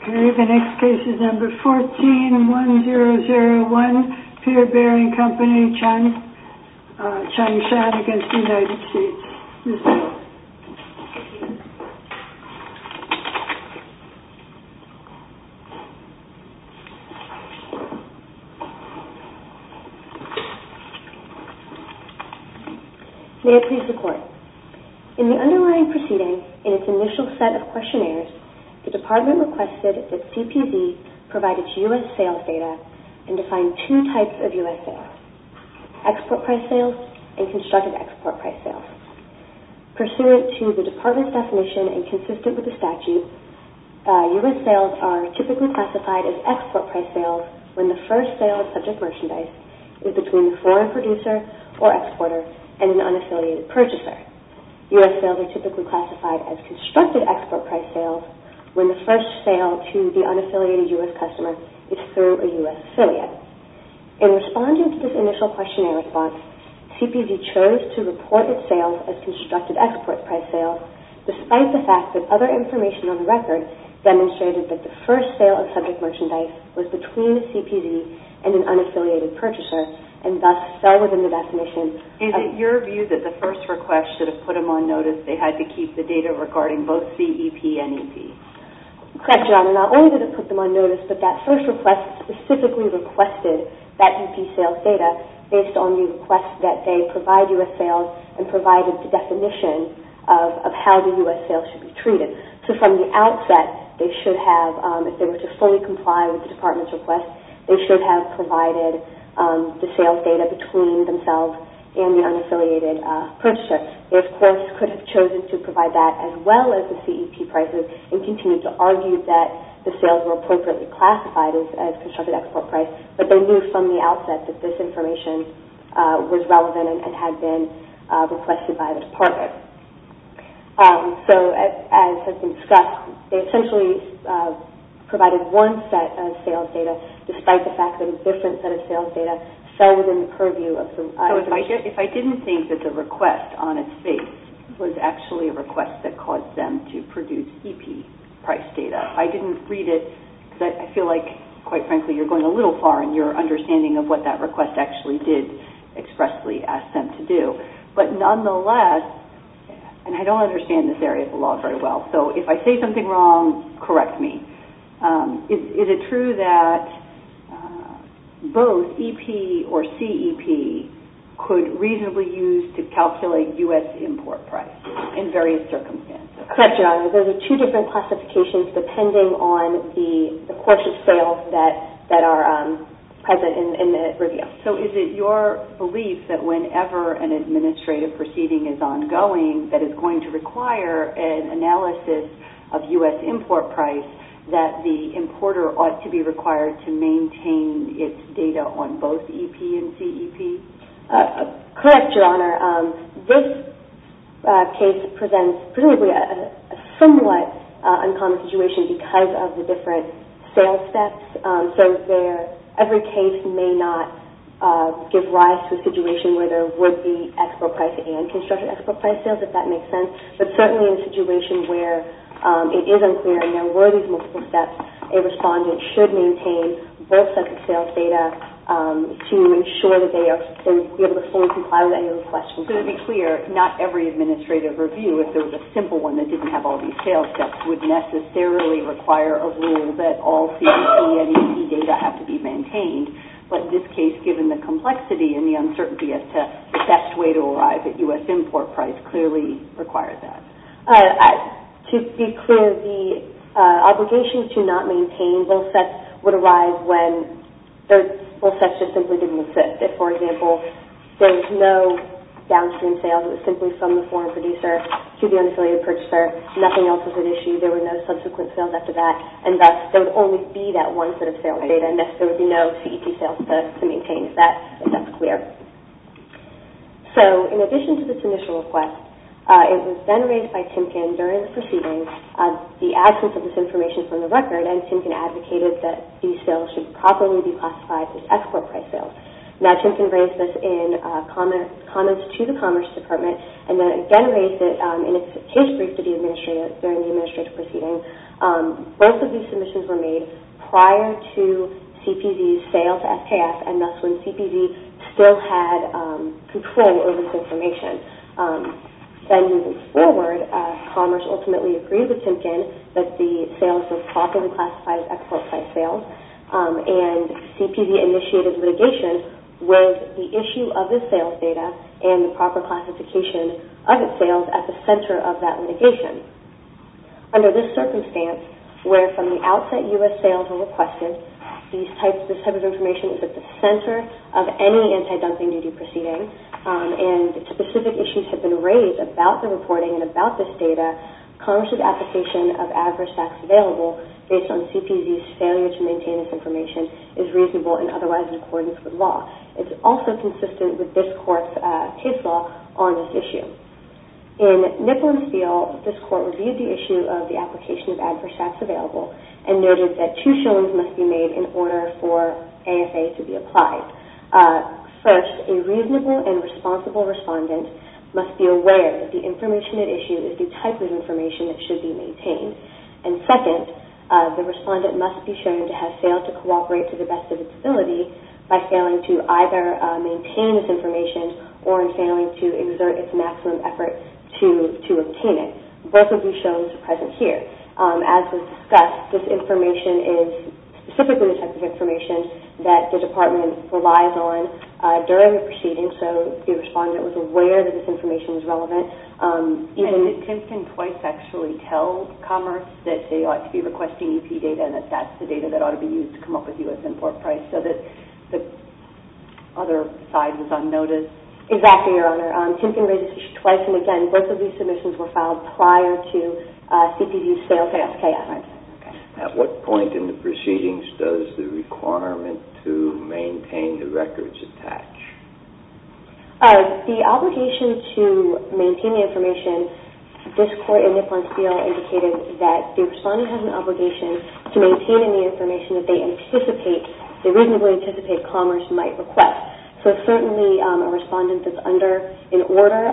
Okay, the next case is number 14-1001, Peer Bearing Company, Changsh v. United States. May I please record? In the underlying proceeding, in its initial set of questionnaires, the department requested that CPV provide its U.S. sales data and define two types of U.S. export price sales and constructed export price sales. Pursuant to the department's definition and consistent with the statute, U.S. sales are typically classified as export price sales when the first sale of subject merchandise is between a foreign producer or exporter and an unaffiliated purchaser. U.S. sales are typically classified as constructed export price sales when the first sale to the unaffiliated U.S. customer is through a U.S. affiliate. In responding to this initial questionnaire response, CPV chose to report its sales as constructed export price sales despite the fact that other information on the record demonstrated that the first sale of subject merchandise was between a CPV and an unaffiliated purchaser and thus fell within the definition of... Is it your view that the first request should have put them on notice they had to keep the data regarding both CEP and EP? Correct, John. Not only did it put them on notice, but that first request specifically requested that EP sales data based on the request that they provide U.S. sales and provided the definition of how the U.S. sales should be treated. So from the outset, they should have, if they were to fully comply with the department's request, they should have provided the sales data between themselves and the unaffiliated purchaser. They, of course, could have chosen to provide that as well as the CEP prices and continue to argue that the sales were appropriately classified as constructed export price, but they knew from the outset that this information was relevant and had been requested by the department. So as has been discussed, they essentially provided one set of sales data despite the fact that a different set of sales data fell within the purview of the... If I didn't think that the request on its face was actually a request that caused them to produce EP price data, I didn't read it because I feel like, quite frankly, you're going a little far in your understanding of what that request actually did expressly ask them to do. But nonetheless, and I don't understand this area of the law very well, so if I say something wrong, correct me. Is it true that both EP or CEP could reasonably use to calculate U.S. import price in various circumstances? Correct, Your Honor. Those are two different classifications depending on the course of sales that are present in the review. So is it your belief that whenever an administrative proceeding is ongoing that it's going to require an analysis of U.S. import price that the importer ought to be required to maintain its data on both EP and CEP? Correct, Your Honor. This case presents a somewhat uncommon situation because of the different sales steps. So every case may not give rise to a situation where there would be export price and constructed export price sales, if that makes sense. But certainly in a situation where it is unclear and there were these multiple steps, a respondent should maintain both sets of sales data to ensure that they are able to fully comply with any of the questions. So to be clear, not every administrative review, if there was a simple one that didn't have all these sales steps, would necessarily require a rule that all CEP and EP data have to be at U.S. import price, clearly required that. To be clear, the obligation to not maintain both sets would arise when both sets just simply didn't fit. For example, there was no downstream sales. It was simply from the foreign producer to the unaffiliated purchaser. Nothing else was at issue. There were no subsequent sales after that and thus there would only be that one set of sales data and thus there would be no CEP sales to maintain if that's clear. So in addition to this initial request, it was then raised by Timken during the proceeding, the absence of this information from the record and Timken advocated that these sales should properly be classified as export price sales. Now Timken raised this in comments to the Commerce Department and then again raised it in its case brief to the administrator during the administrative proceeding. Both of these submissions were made prior to CPV's sale to SKF and thus when CPV still had control over this information. Then moving forward, Commerce ultimately agreed with Timken that the sales were properly classified as export price sales and CPV initiated litigation with the issue of this sales data and the Under this circumstance, where from the outset U.S. sales were requested, this type of information is at the center of any anti-dumping duty proceeding and specific issues have been raised about the reporting and about this data. Commerce's application of adverse facts available based on CPV's failure to maintain this information is reasonable and otherwise in accordance with law. It's also consistent with this court's case law on this issue. In Nipple and Steele, this court reviewed the issue of the application of adverse facts available and noted that two showings must be made in order for AFA to be applied. First, a reasonable and responsible respondent must be aware that the information at issue is the type of information that should be maintained and second, the respondent must be shown to have failed to cooperate to the best of its ability by failing to either maintain this information or in failing to exert its maximum effort to obtain it. Both of these showings are present here. As was discussed, this information is specifically the type of information that the department relies on during the proceedings so the respondent was aware that this information is relevant. Can Twyce actually tell Commerce that they ought to be requesting EP data and that that's the data that ought to be used to come up with U.S. import price so that the other side was unnoticed? Exactly, Your Honor. Tim can raise this issue twice and again, both of these submissions were filed prior to CPV's fail to ask AFR. At what point in the proceedings does the requirement to maintain the records attach? The obligation to maintain the information, this court in Nipple and Steele indicated that the respondent has an obligation to maintain any information that they reasonably anticipate Commerce might request. Certainly, a respondent that's under an order,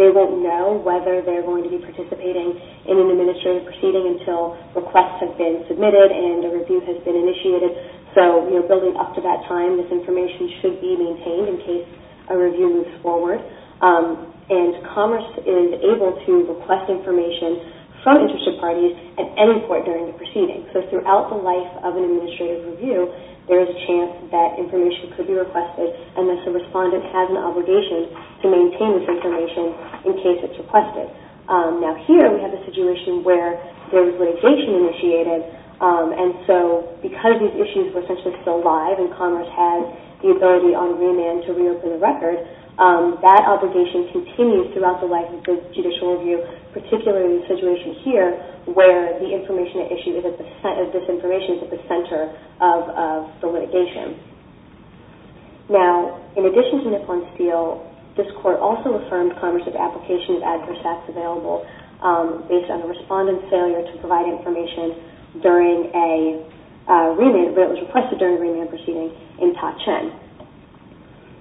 they won't know whether they're going to be participating in an administrative proceeding until requests have been submitted and a review has been initiated. Building up to that time, this information should be maintained in case a review moves forward and Commerce is able to request information from interested parties at any point during the proceedings. Throughout the life of an administrative review, there is a chance that information could be requested unless the respondent has an obligation to maintain this information in case it's requested. Here, we have a situation where there's litigation initiated and so because these issues were potentially still live and Commerce had the ability on remand to reopen the record, that obligation continues throughout the life of the judicial review, particularly the situation here where the information issued is at the center of the litigation. In addition to Nipple and Steele, this court also affirmed Commerce's application of adverse acts available based on the respondent's failure to provide information during a remand where it was requested during a remand proceeding in Todd-Chen.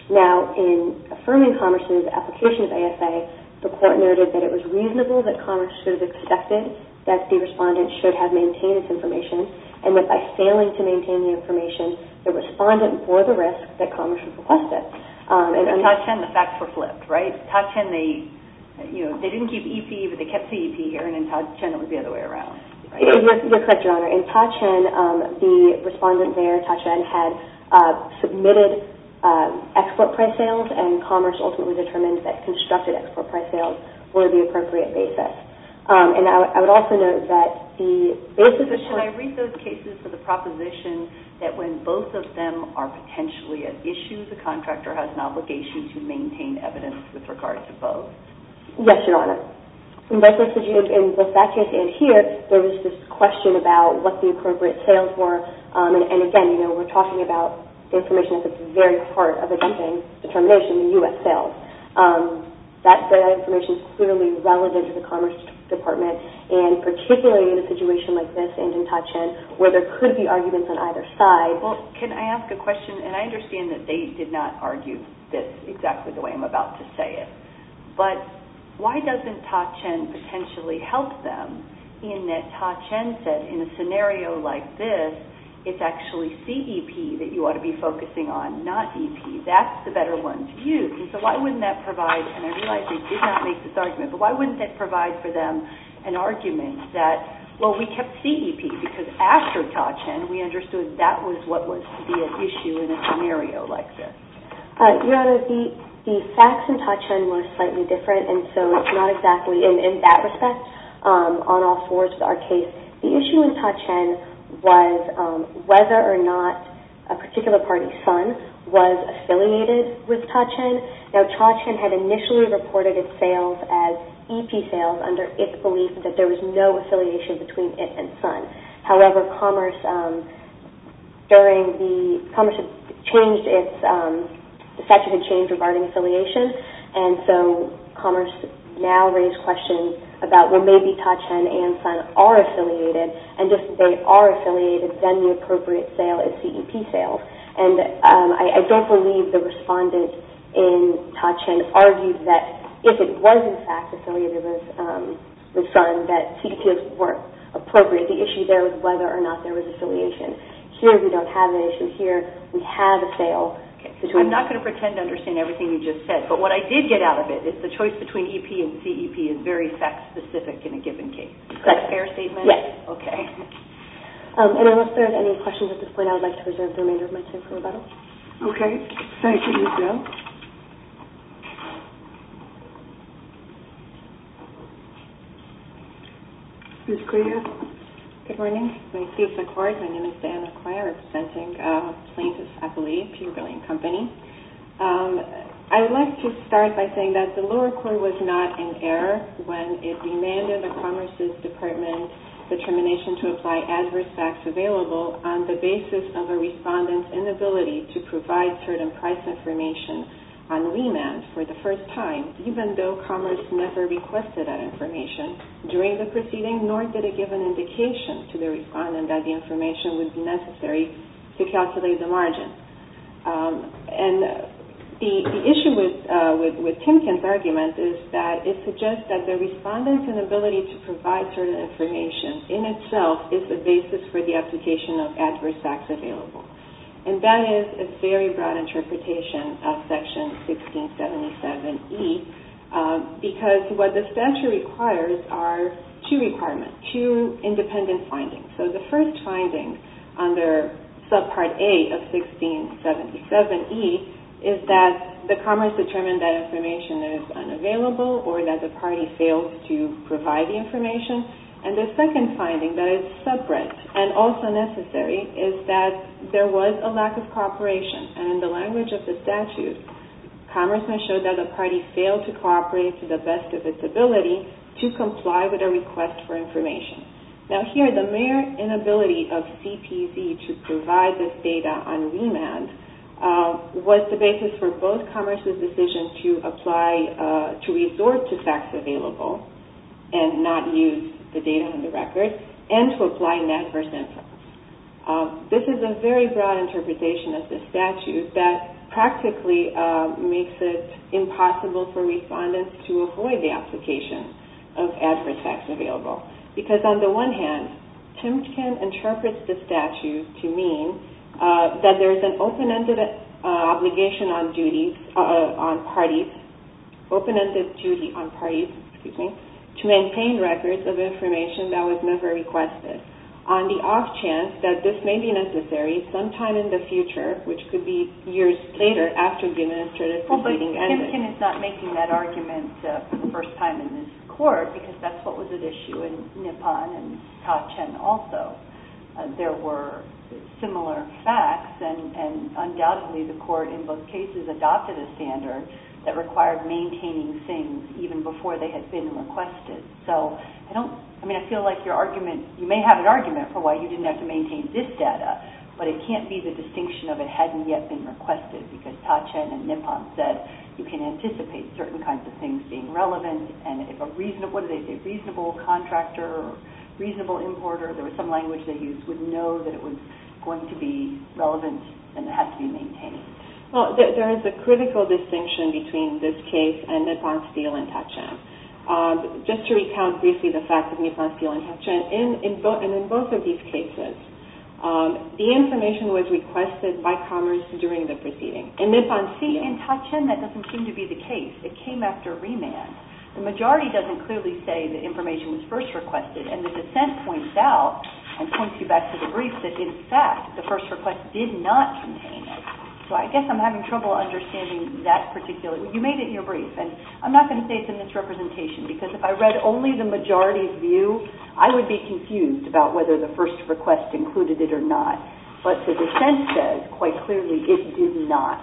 Now, in affirming Commerce's application of ASA, the court noted that it was reasonable that Commerce should have expected that the respondent should have maintained this information and that by failing to maintain the information, the respondent bore the risk that Commerce requested. In Todd-Chen, the facts were flipped, right? In Todd-Chen, they didn't keep EP, but they kept CEP here and in Todd-Chen, it was the other way around. You're correct, Your Honor. In Todd-Chen, the respondent there, Todd-Chen, had submitted export price sales and Commerce ultimately determined that constructed export price sales were the appropriate basis. I would also note that the basis of... Can I read those cases for the proposition that when both of them are potentially an issue, the contractor has an obligation to maintain evidence with regard to both? Yes, Your Honor. In both that case and here, there was this question about what the appropriate sales were and again, we're talking about the information that's at the very heart of the dumping determination, the U.S. sales. That information is clearly relevant to the Commerce Department and particularly in a situation like this and in Todd-Chen where there could be arguments on either side. Can I ask a question? I understand that they did not argue this exactly the way I'm about to say it, but why doesn't Todd-Chen potentially help them in that Todd-Chen said in a scenario like this, it's actually CEP that you ought to be focusing on, not EP. That's the better one to use and so why wouldn't that provide... And I realize we did not make this argument, but why wouldn't that provide for them an argument that, well, we kept CEP because after Todd-Chen, we understood that was what was to be an issue in a scenario like this? Your Honor, the facts in Todd-Chen were slightly different and so it's not exactly in that respect on all fours with our case. The issue in Todd-Chen was whether or not a particular party's son was affiliated with Todd-Chen. Now, Todd-Chen had initially reported its sales as EP sales under its belief that there was no affiliation between it and son. However, Commerce changed its statute of change regarding affiliation and so Commerce now raised questions about, well, maybe Todd-Chen and son are affiliated and if they are affiliated, then the appropriate sale is CEP sales. I don't believe the respondent in Todd-Chen argued that if it was in fact affiliated with son that CEP sales weren't appropriate. The issue there was whether or not there was affiliation. Here, we don't have an issue. Here, we have a sale. I'm not going to pretend to understand everything you just said, but what I did get out of it is the choice between EP and CEP is very fact-specific in a given case. Correct. Is that a fair statement? Yes. Okay. I don't know if there are any questions at this point. I would like to reserve the remainder of my time for rebuttal. Okay. Thank you, Michelle. Ms. Correa? Good morning. My name is Diana Correa representing Plaintiffs' Affiliate, Peabody & Company. I would like to start by saying that the lower court was not in error when it demanded that Commerce's Department determination to apply adverse facts available on the basis of a respondent's inability to provide certain price information on remand for the first time, even though Commerce never requested that information during the proceeding, nor did it give an indication to the respondent that the information would be necessary to calculate the margin. And the issue with Timkin's argument is that it suggests that the respondent's inability to provide certain information in itself is the basis for the application of adverse facts available. And that is a very broad interpretation of Section 1677E, because what this statute requires are two requirements, two independent findings. So the first finding under Subpart A of 1677E is that the Commerce determined that information is unavailable or that the party failed to provide the information. And the second finding that is separate and also necessary is that there was a lack of cooperation. And in the language of the statute, Commerce must show that the party failed to cooperate to the best of its ability to comply with a request for information. Now here, the mere inability of CPC to provide this data on remand was the basis for both Commerce's decision to apply to resort to facts available and not use the data on the record, and to apply an adverse influence. This is a very broad interpretation of the statute that practically makes it impossible for respondents to avoid the application of On the one hand, Timken interprets the statute to mean that there is an open-ended obligation on duties, on parties, open-ended duty on parties, excuse me, to maintain records of information that was never requested on the off chance that this may be necessary sometime in the future, which could be years later after the administrative proceeding ended. Well, but Timken is not making that argument for the first time in this Court, because that's what was at issue in Nippon and Ta-Cheng also. There were similar facts, and undoubtedly the Court in both cases adopted a standard that required maintaining things even before they had been requested. So I don't, I mean, I feel like your argument, you may have an argument for why you didn't have to maintain this data, but it can't be the distinction of it hadn't yet been requested, because Ta-Cheng and Nippon said you can anticipate certain kinds of things being relevant, and if a reasonable contractor or reasonable importer, there was some language they used, would know that it was going to be relevant and had to be maintained. Well, there is a critical distinction between this case and Nippon, Steele, and Ta-Cheng. Just to recount briefly the fact of Nippon, Steele, and Ta-Cheng, and in both of these cases, the information was requested by Commerce during the proceeding. In Nippon, Steele, and Ta-Cheng, that doesn't seem to be the case. It came after remand. The majority doesn't clearly say the information was first requested, and the dissent points out, and points you back to the brief, that in fact, the first request did not contain it. So I guess I'm having trouble understanding that particular, you made it in your brief, and I'm not going to say it's a misrepresentation, because if I read only the majority's view, I would be confused about whether the first request included it or not. But the dissent says quite clearly it did not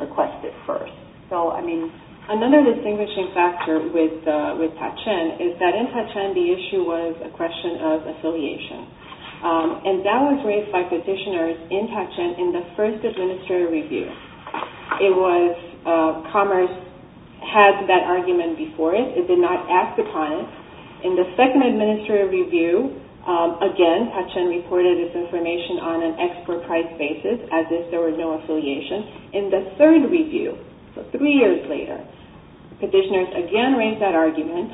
request it first. So, I mean, another distinguishing factor with Ta-Cheng is that in Ta-Cheng, the issue was a question of affiliation. And that was raised by petitioners in Ta-Cheng in the first administrative review. It was Commerce had that argument before it. It did not act upon it. In the second administrative review, again, Ta-Cheng reported its information on an expert price basis, as if there was no affiliation. In the third review, three years later, petitioners again raised that argument.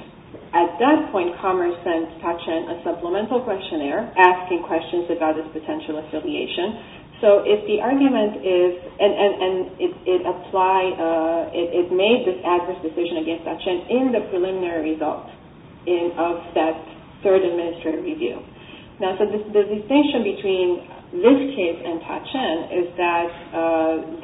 At that point, Commerce sent Ta-Cheng a supplemental questionnaire asking questions about its potential affiliation. So if the argument is, and it applied, it made this adverse decision against Ta-Cheng in the preliminary results of that third administrative review. Now, so the distinction between this case and Ta-Cheng is that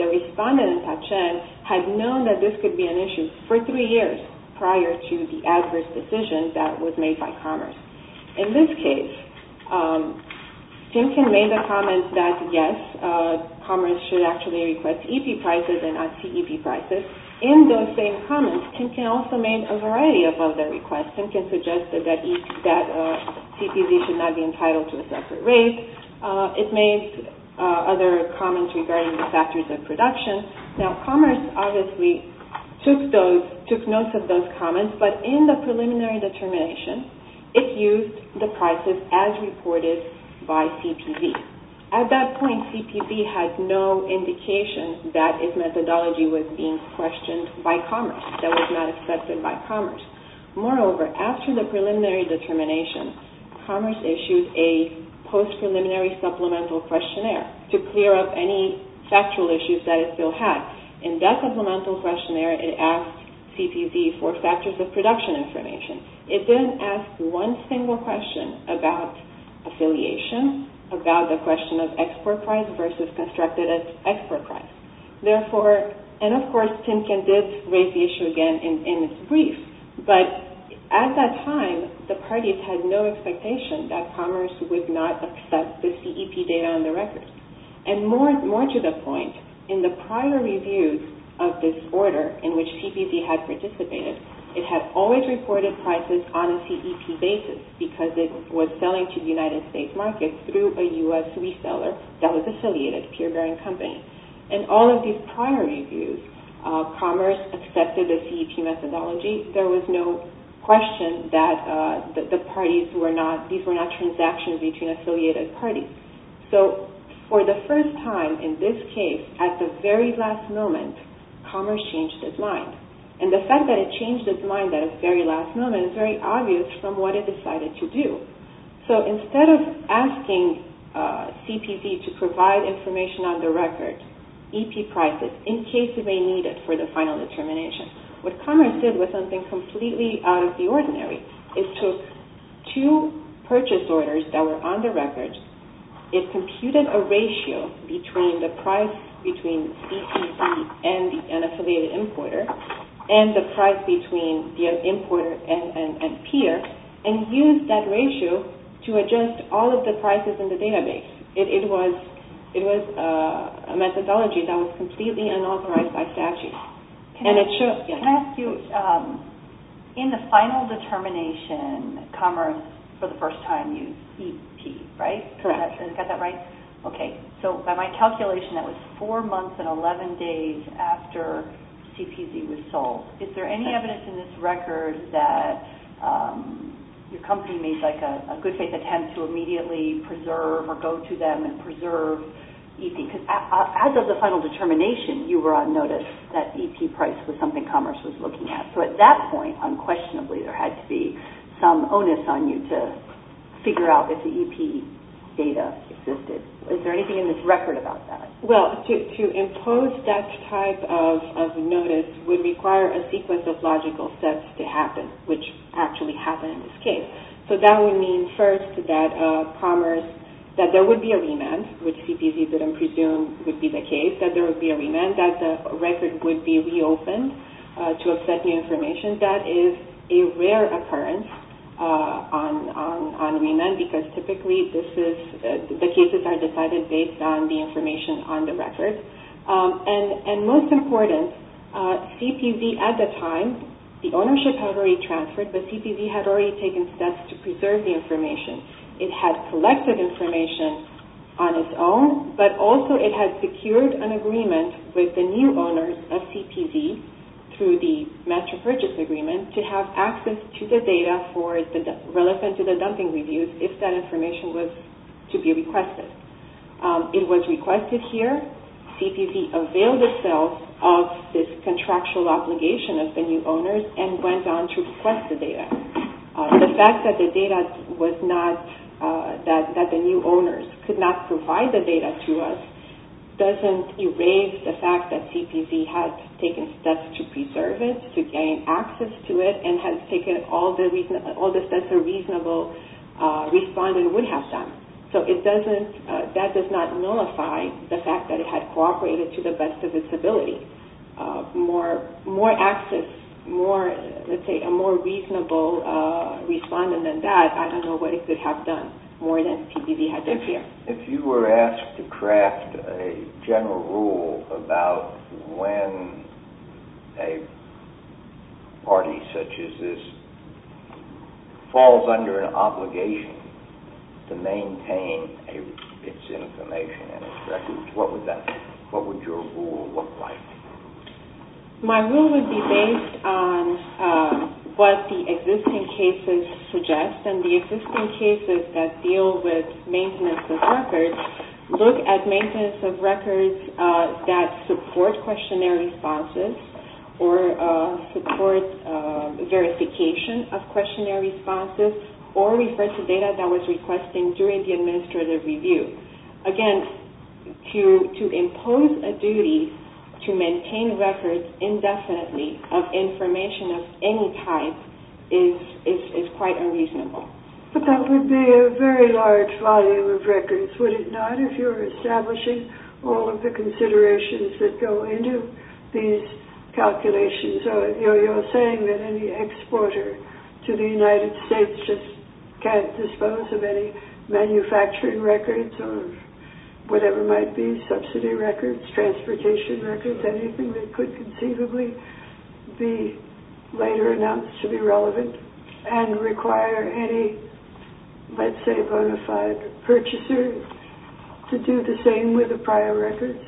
the respondent in Ta-Cheng had known that this could be an issue for three years prior to the adverse decision that was made by Commerce. In this case, Timkin made the comment that, yes, Commerce should actually request EP prices and not CEP prices. In those same comments, Timkin also made a comment that CPV should not be entitled to a separate rate. It made other comments regarding the factors of production. Now, Commerce obviously took notes of those comments, but in the preliminary determination, it used the prices as reported by CPV. At that point, CPV had no indication that its methodology was being questioned by Commerce, that it was not accepted by Commerce. Moreover, after the preliminary determination, Commerce issued a post-preliminary supplemental questionnaire to clear up any factual issues that it still had. In that supplemental questionnaire, it asked CPV for factors of production information. It didn't ask one single question about affiliation, about the question of export price versus constructed as export price. Of course, Timkin did raise the issue again in its brief. At that time, the parties had no expectation that Commerce would not accept the CEP data on the record. More to the point, in the prior reviews of this order in which CPV had participated, it had always reported prices on a CEP basis because it was selling to the United States market through a US reseller that was affiliated, a peer bearing company. In all of these prior reviews, Commerce accepted the CEP methodology. There was no question that these were not transactions between affiliated parties. For the first time in this case, at the very last moment, Commerce changed its mind. The fact that it changed its mind at the very last moment is very obvious from what it decided to do. Instead of asking CPV to provide information on the record, EP prices, in case they need it for the final determination, what Commerce did was something completely out of the ordinary. It took two purchase orders that were on the record. It computed a ratio between the price between CPV and the unaffiliated importer and the seller, and used that ratio to adjust all of the prices in the database. It was a methodology that was completely unauthorized by statute. Can I ask you, in the final determination, Commerce, for the first time, used CEP, right? Correct. Got that right? Okay. By my calculation, that was four months and 11 days after CPV was sold. Is there any evidence in this record that your company made a good faith attempt to immediately preserve or go to them and preserve EP? As of the final determination, you were on notice that EP price was something Commerce was looking at. At that point, unquestionably, there had to be some onus on you to figure out if the EP data existed. Is there anything in this record about that? Well, to impose that type of notice would require a sequence of logical steps to happen, which actually happened in this case. That would mean, first, that there would be a remand, which CPV didn't presume would be the case, that there would be a remand, that the record would be reopened to accept new information. That is a rare occurrence on remand, because typically the cases are decided based on the information on the record. Most important, CPV at the time, the ownership had already transferred, but CPV had already taken steps to preserve the information. It had collected information on its own, but also it had secured an agreement with the new owners of CPV through the master purchase agreement to have access to the data relevant to the dumping reviews if that information was to be requested. It was requested here. CPV availed itself of this contractual obligation of the new owners and went on to request the data. The fact that the new owners could not provide the data to us doesn't erase the fact that CPV had taken steps to preserve it, to gain access to it, and had taken all the steps a reasonable respondent would have done. That does not nullify the fact that it had cooperated to the best of its ability. More access, let's say a more reasonable respondent than that, I don't know what it could have done more than CPV had done here. If you were asked to craft a general rule about when a party such as this falls under an obligation to maintain its information and its records, what would that be? What would your rule look like? My rule would be based on what the existing cases suggest, and the existing cases that deal with maintenance of records, look at maintenance of records that support questionnaire responses or support verification of questionnaire responses or refer to data that was requested during the administrative review. Again, to impose a duty to maintain records indefinitely of information of any type is quite unreasonable. But that would be a very large volume of records, would it not, if you're establishing all of the considerations that go into these calculations? You're saying that any exporter to the United States just can't dispose of any manufacturing records or whatever might be, subsidy records, transportation records, anything that could conceivably be later announced to be relevant and require any, let's say, bona fide purchaser to do the same with the prior records?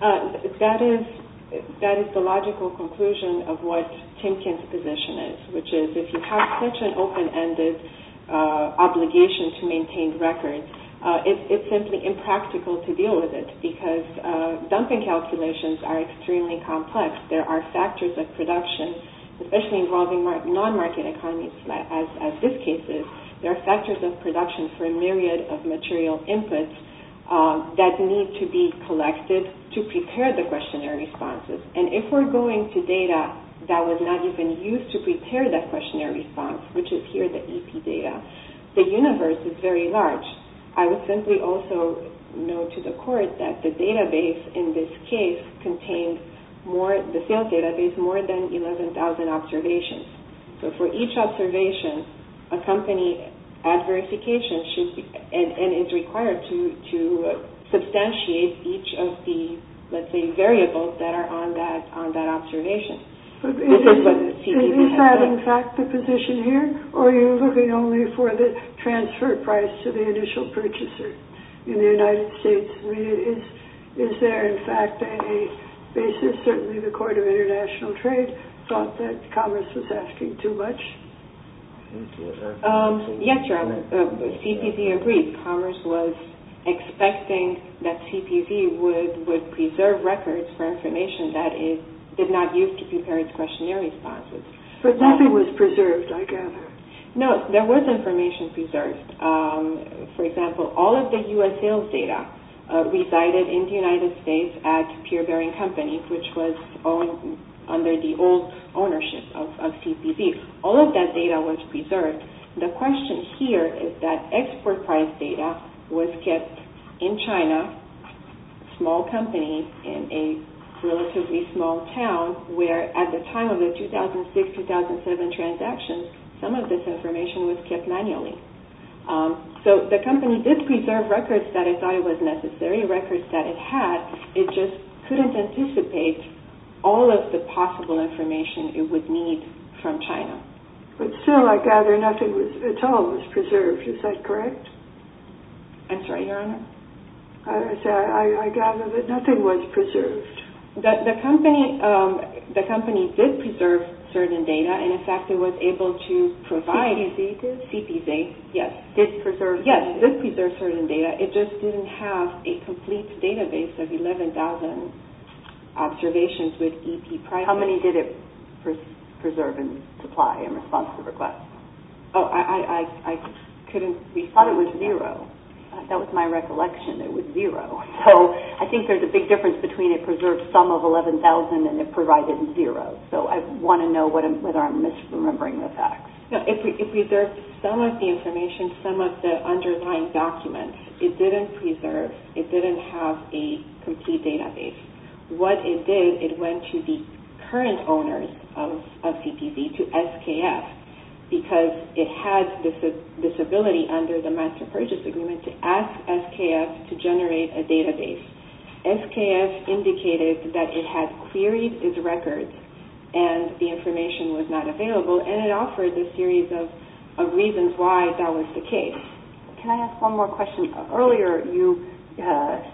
That is the logical conclusion of what Timkin's position is, which is if you have such an open-ended obligation to maintain records, it's simply impractical to deal with it because dumping calculations are extremely complex. There are factors of production, especially involving non-market economies as this case is. There are factors of production for a myriad of material inputs that need to be collected to prepare the questionnaire responses. And if we're going to data that was not even used to prepare that questionnaire response, which is here the EP data, the universe is very large. I would simply also note to the each observation, a company at verification is required to substantiate each of the, let's say, variables that are on that observation. Is that in fact the position here, or are you looking only for the transfer price to the initial purchaser in the United States? Is there in fact a basis, certainly the Court of International Trade thought that Commerce was asking too much? Yes, Your Honor. CPV agreed. Commerce was expecting that CPV would preserve records for information that it did not use to prepare its questionnaire responses. But nothing was preserved, I gather. No, there was information preserved. For example, all of the U.S. sales data resided in the United States at Peer Bearing Company, which was under the old ownership of CPV. All of that data was preserved. The question here is that export price data was kept in China, a small company in a relatively small town, where at the time of the 2006-2007 transactions, some of this information was kept manually. So the company did preserve records that it thought were necessary, records that it had. It just couldn't anticipate all of the possible information it would need from China. But still, I gather nothing at all was preserved. Is that correct? I'm sorry, Your Honor? I gather that nothing was preserved. The company did preserve certain data, and in fact, it was able to provide... CPV did? CPV, yes. Did preserve certain data? Yes, did preserve certain data. It just didn't have a complete database of 11,000 observations with EP prices. How many did it preserve and supply in response to requests? Oh, I couldn't... We thought it was zero. That was my recollection. It was zero. So I think there's a big difference between it preserved some of 11,000 and it provided zero. So I want to know whether I'm misremembering the facts. No, it preserved some of the information, some of the underlying documents. It didn't preserve, it didn't have a complete database. What it did, it went to the current owners of CPV, to SKF, because it had this ability under the Master Purchase Agreement to ask SKF to generate a database. SKF indicated that it had queried its records and the information was not available, and it offered a series of reasons why that was the case. Can I ask one more question? Earlier, you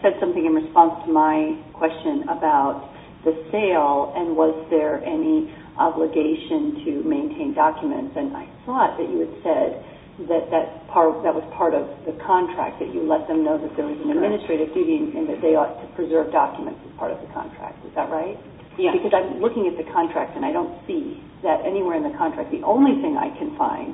said something in response to my question about the sale, and was there any obligation to maintain documents? And I thought that you had said that that was part of the contract, that you let them know that there was an administrative duty and that they ought to preserve documents as part of the contract. Is that right? Yes. Because I'm looking at the contract and I don't see that anywhere in the contract. The only thing I can find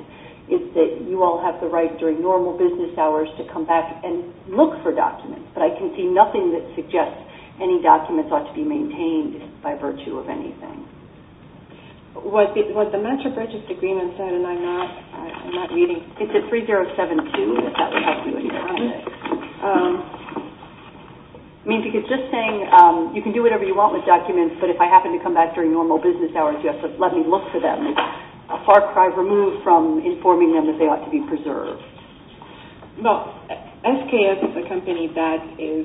is that you all have the right during normal business hours to come back and look for documents, but I can see nothing that suggests any documents ought to be maintained by virtue of anything. What the Mentor Purchase Agreement said, and I'm not reading... It's at 3072, if that would help you. I mean, because just saying you can do whatever you want with documents, but if I happen to come back during normal business hours, you have to let me look for them, Well, SKS is a company that is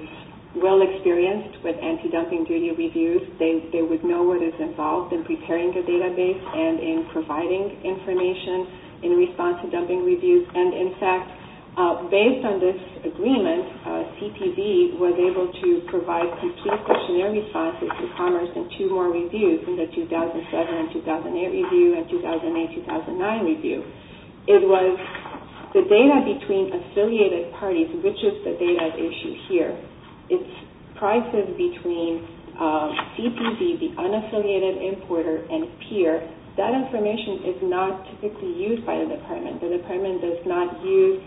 well-experienced with anti-dumping duty reviews. They would know what is involved in preparing the database and in providing information in response to dumping reviews. And, in fact, based on this agreement, CPB was able to provide complete questionnaire responses to Commerce and two more reviews in the 2007 and 2008 review and 2008-2009 review. It was the data between affiliated parties, which is the data issue here. It's prices between CPB, the unaffiliated importer, and PEER. That information is not typically used by the department. The department does not use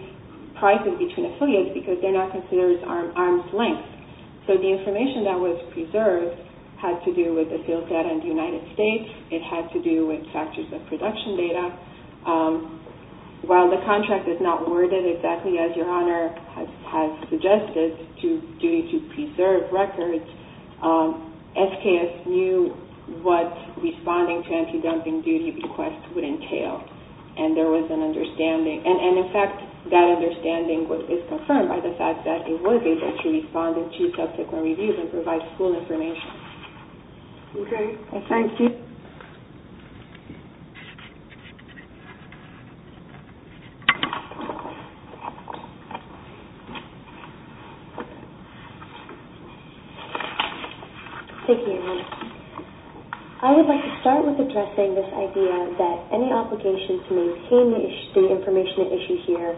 prices between affiliates because they're not considered arm's length. So the information that was preserved had to do with the sales data in the United States. It had to do with factors of production data. While the contract is not worded exactly as Your Honor has suggested, due to preserved records, SKS knew what responding to anti-dumping duty requests would entail, and there was an understanding. And, in fact, that understanding is confirmed by the fact that it was able to respond in two subsequent reviews and provide school information. Okay. Thank you. Thank you. Thank you, Your Honor. I would like to start with addressing this idea that any obligation to maintain the information at issue here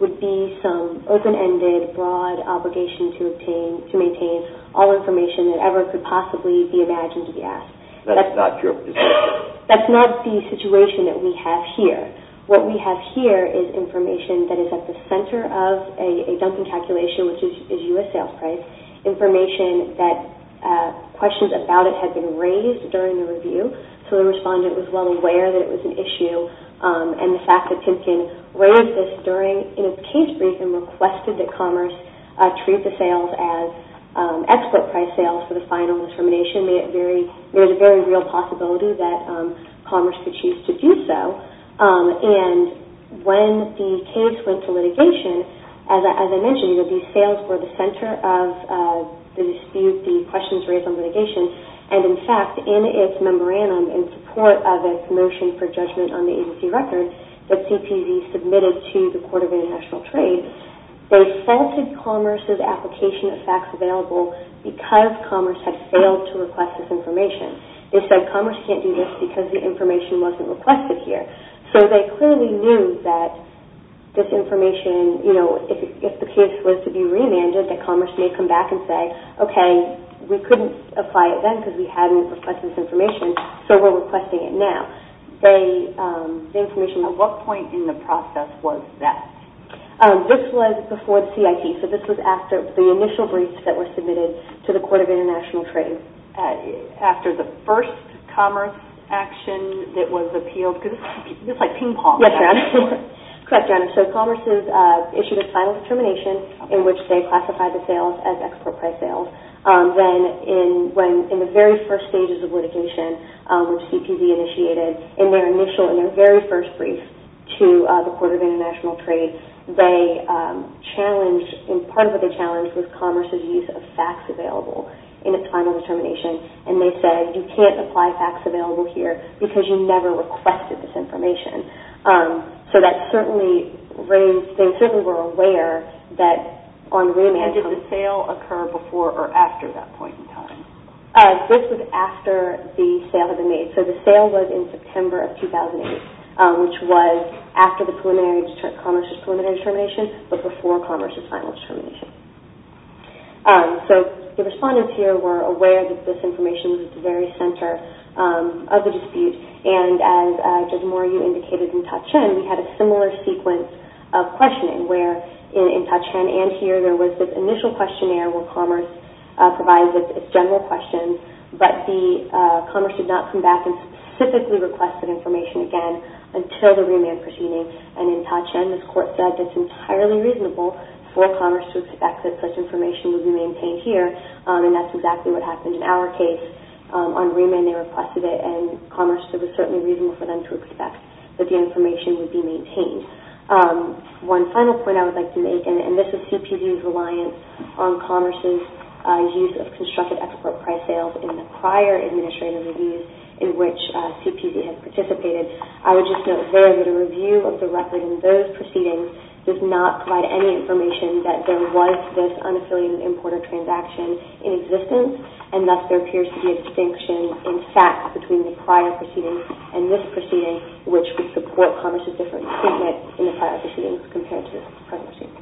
would be some open-ended, broad obligation to maintain all information that ever could possibly be imagined to be asked. That's not true. What we have here is information that is at the center of a dumping calculation, which is U.S. sales price, information that questions about it had been raised during the review, so the respondent was well aware that it was an issue, and the fact that Timpkin raised this in a case briefing and requested that Commerce treat the sales as export-priced sales for the final determination, there's a very real possibility that Commerce could choose to do so. And when the case went to litigation, as I mentioned, the sales were the center of the dispute, the questions raised on litigation, and, in fact, in its memorandum in support of its motion for judgment on the agency record that CPD submitted to the Court of International Trade, they faulted Commerce's application of facts available because Commerce had failed to request this information. They said Commerce can't do this because the information wasn't requested here. So they clearly knew that this information, you know, if the case was to be remanded, that Commerce may come back and say, okay, we couldn't apply it then because we hadn't requested this information, so we're requesting it now. At what point in the process was that? This was before the CIT, so this was after the initial briefs that were submitted to the Court of International Trade. After the first Commerce action that was appealed? Because this is like ping-pong. Yes, Your Honor. Correct, Your Honor. So Commerce issued a final determination in which they classified the sales as export-priced sales. Then in the very first stages of litigation, when CPD initiated in their initial, in their very first brief, to the Court of International Trade, they challenged, and part of what they challenged, was Commerce's use of facts available in a final determination, and they said you can't apply facts available here because you never requested this information. So that certainly raised, they certainly were aware that on remand. And did the sale occur before or after that point in time? This was after the sale had been made. So the sale was in September of 2008, which was after Commerce's preliminary determination, but before Commerce's final determination. So the respondents here were aware that this information was at the very center of the dispute, and as Judge Moryu indicated in Ta-Chin, we had a similar sequence of questioning where in Ta-Chin and here, there was this initial questionnaire where Commerce provided its general questions, but Commerce did not come back and specifically requested information again until the remand proceeding. And in Ta-Chin, this Court said that it's entirely reasonable for Commerce to expect that such information would be maintained here, and that's exactly what happened in our case. On remand, they requested it, and Commerce said it was certainly reasonable for them to expect that the information would be maintained. One final point I would like to make, and this is CPD's reliance on Commerce's use of constructed export price sales in the prior administrative reviews in which CPD has participated. I would just note there that a review of the record in those proceedings does not provide any information that there was this unaffiliated importer transaction in existence, and thus there appears to be a distinction in fact between the prior proceedings and this proceeding, which would support Commerce's different statement in the prior proceedings compared to the prior proceedings.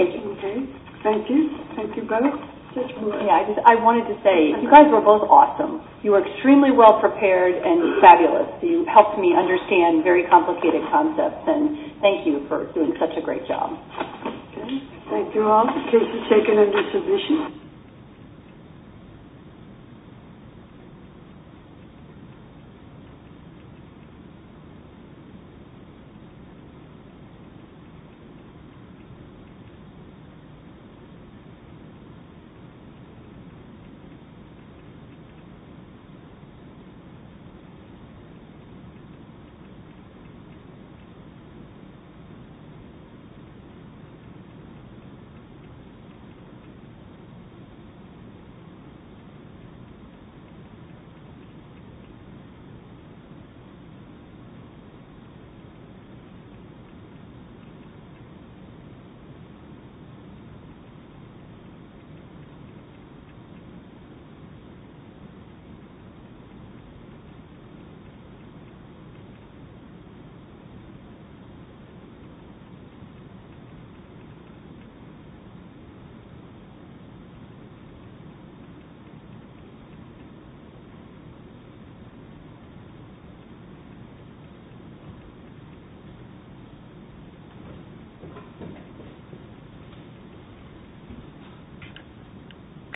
Thank you. Okay, thank you. Thank you both. Yeah, I wanted to say, you guys were both awesome. You were extremely well prepared and fabulous. You helped me understand very complicated concepts, and thank you for doing such a great job. Okay, thank you all. The case is taken under submission. Thank you. Thank you. Thank you.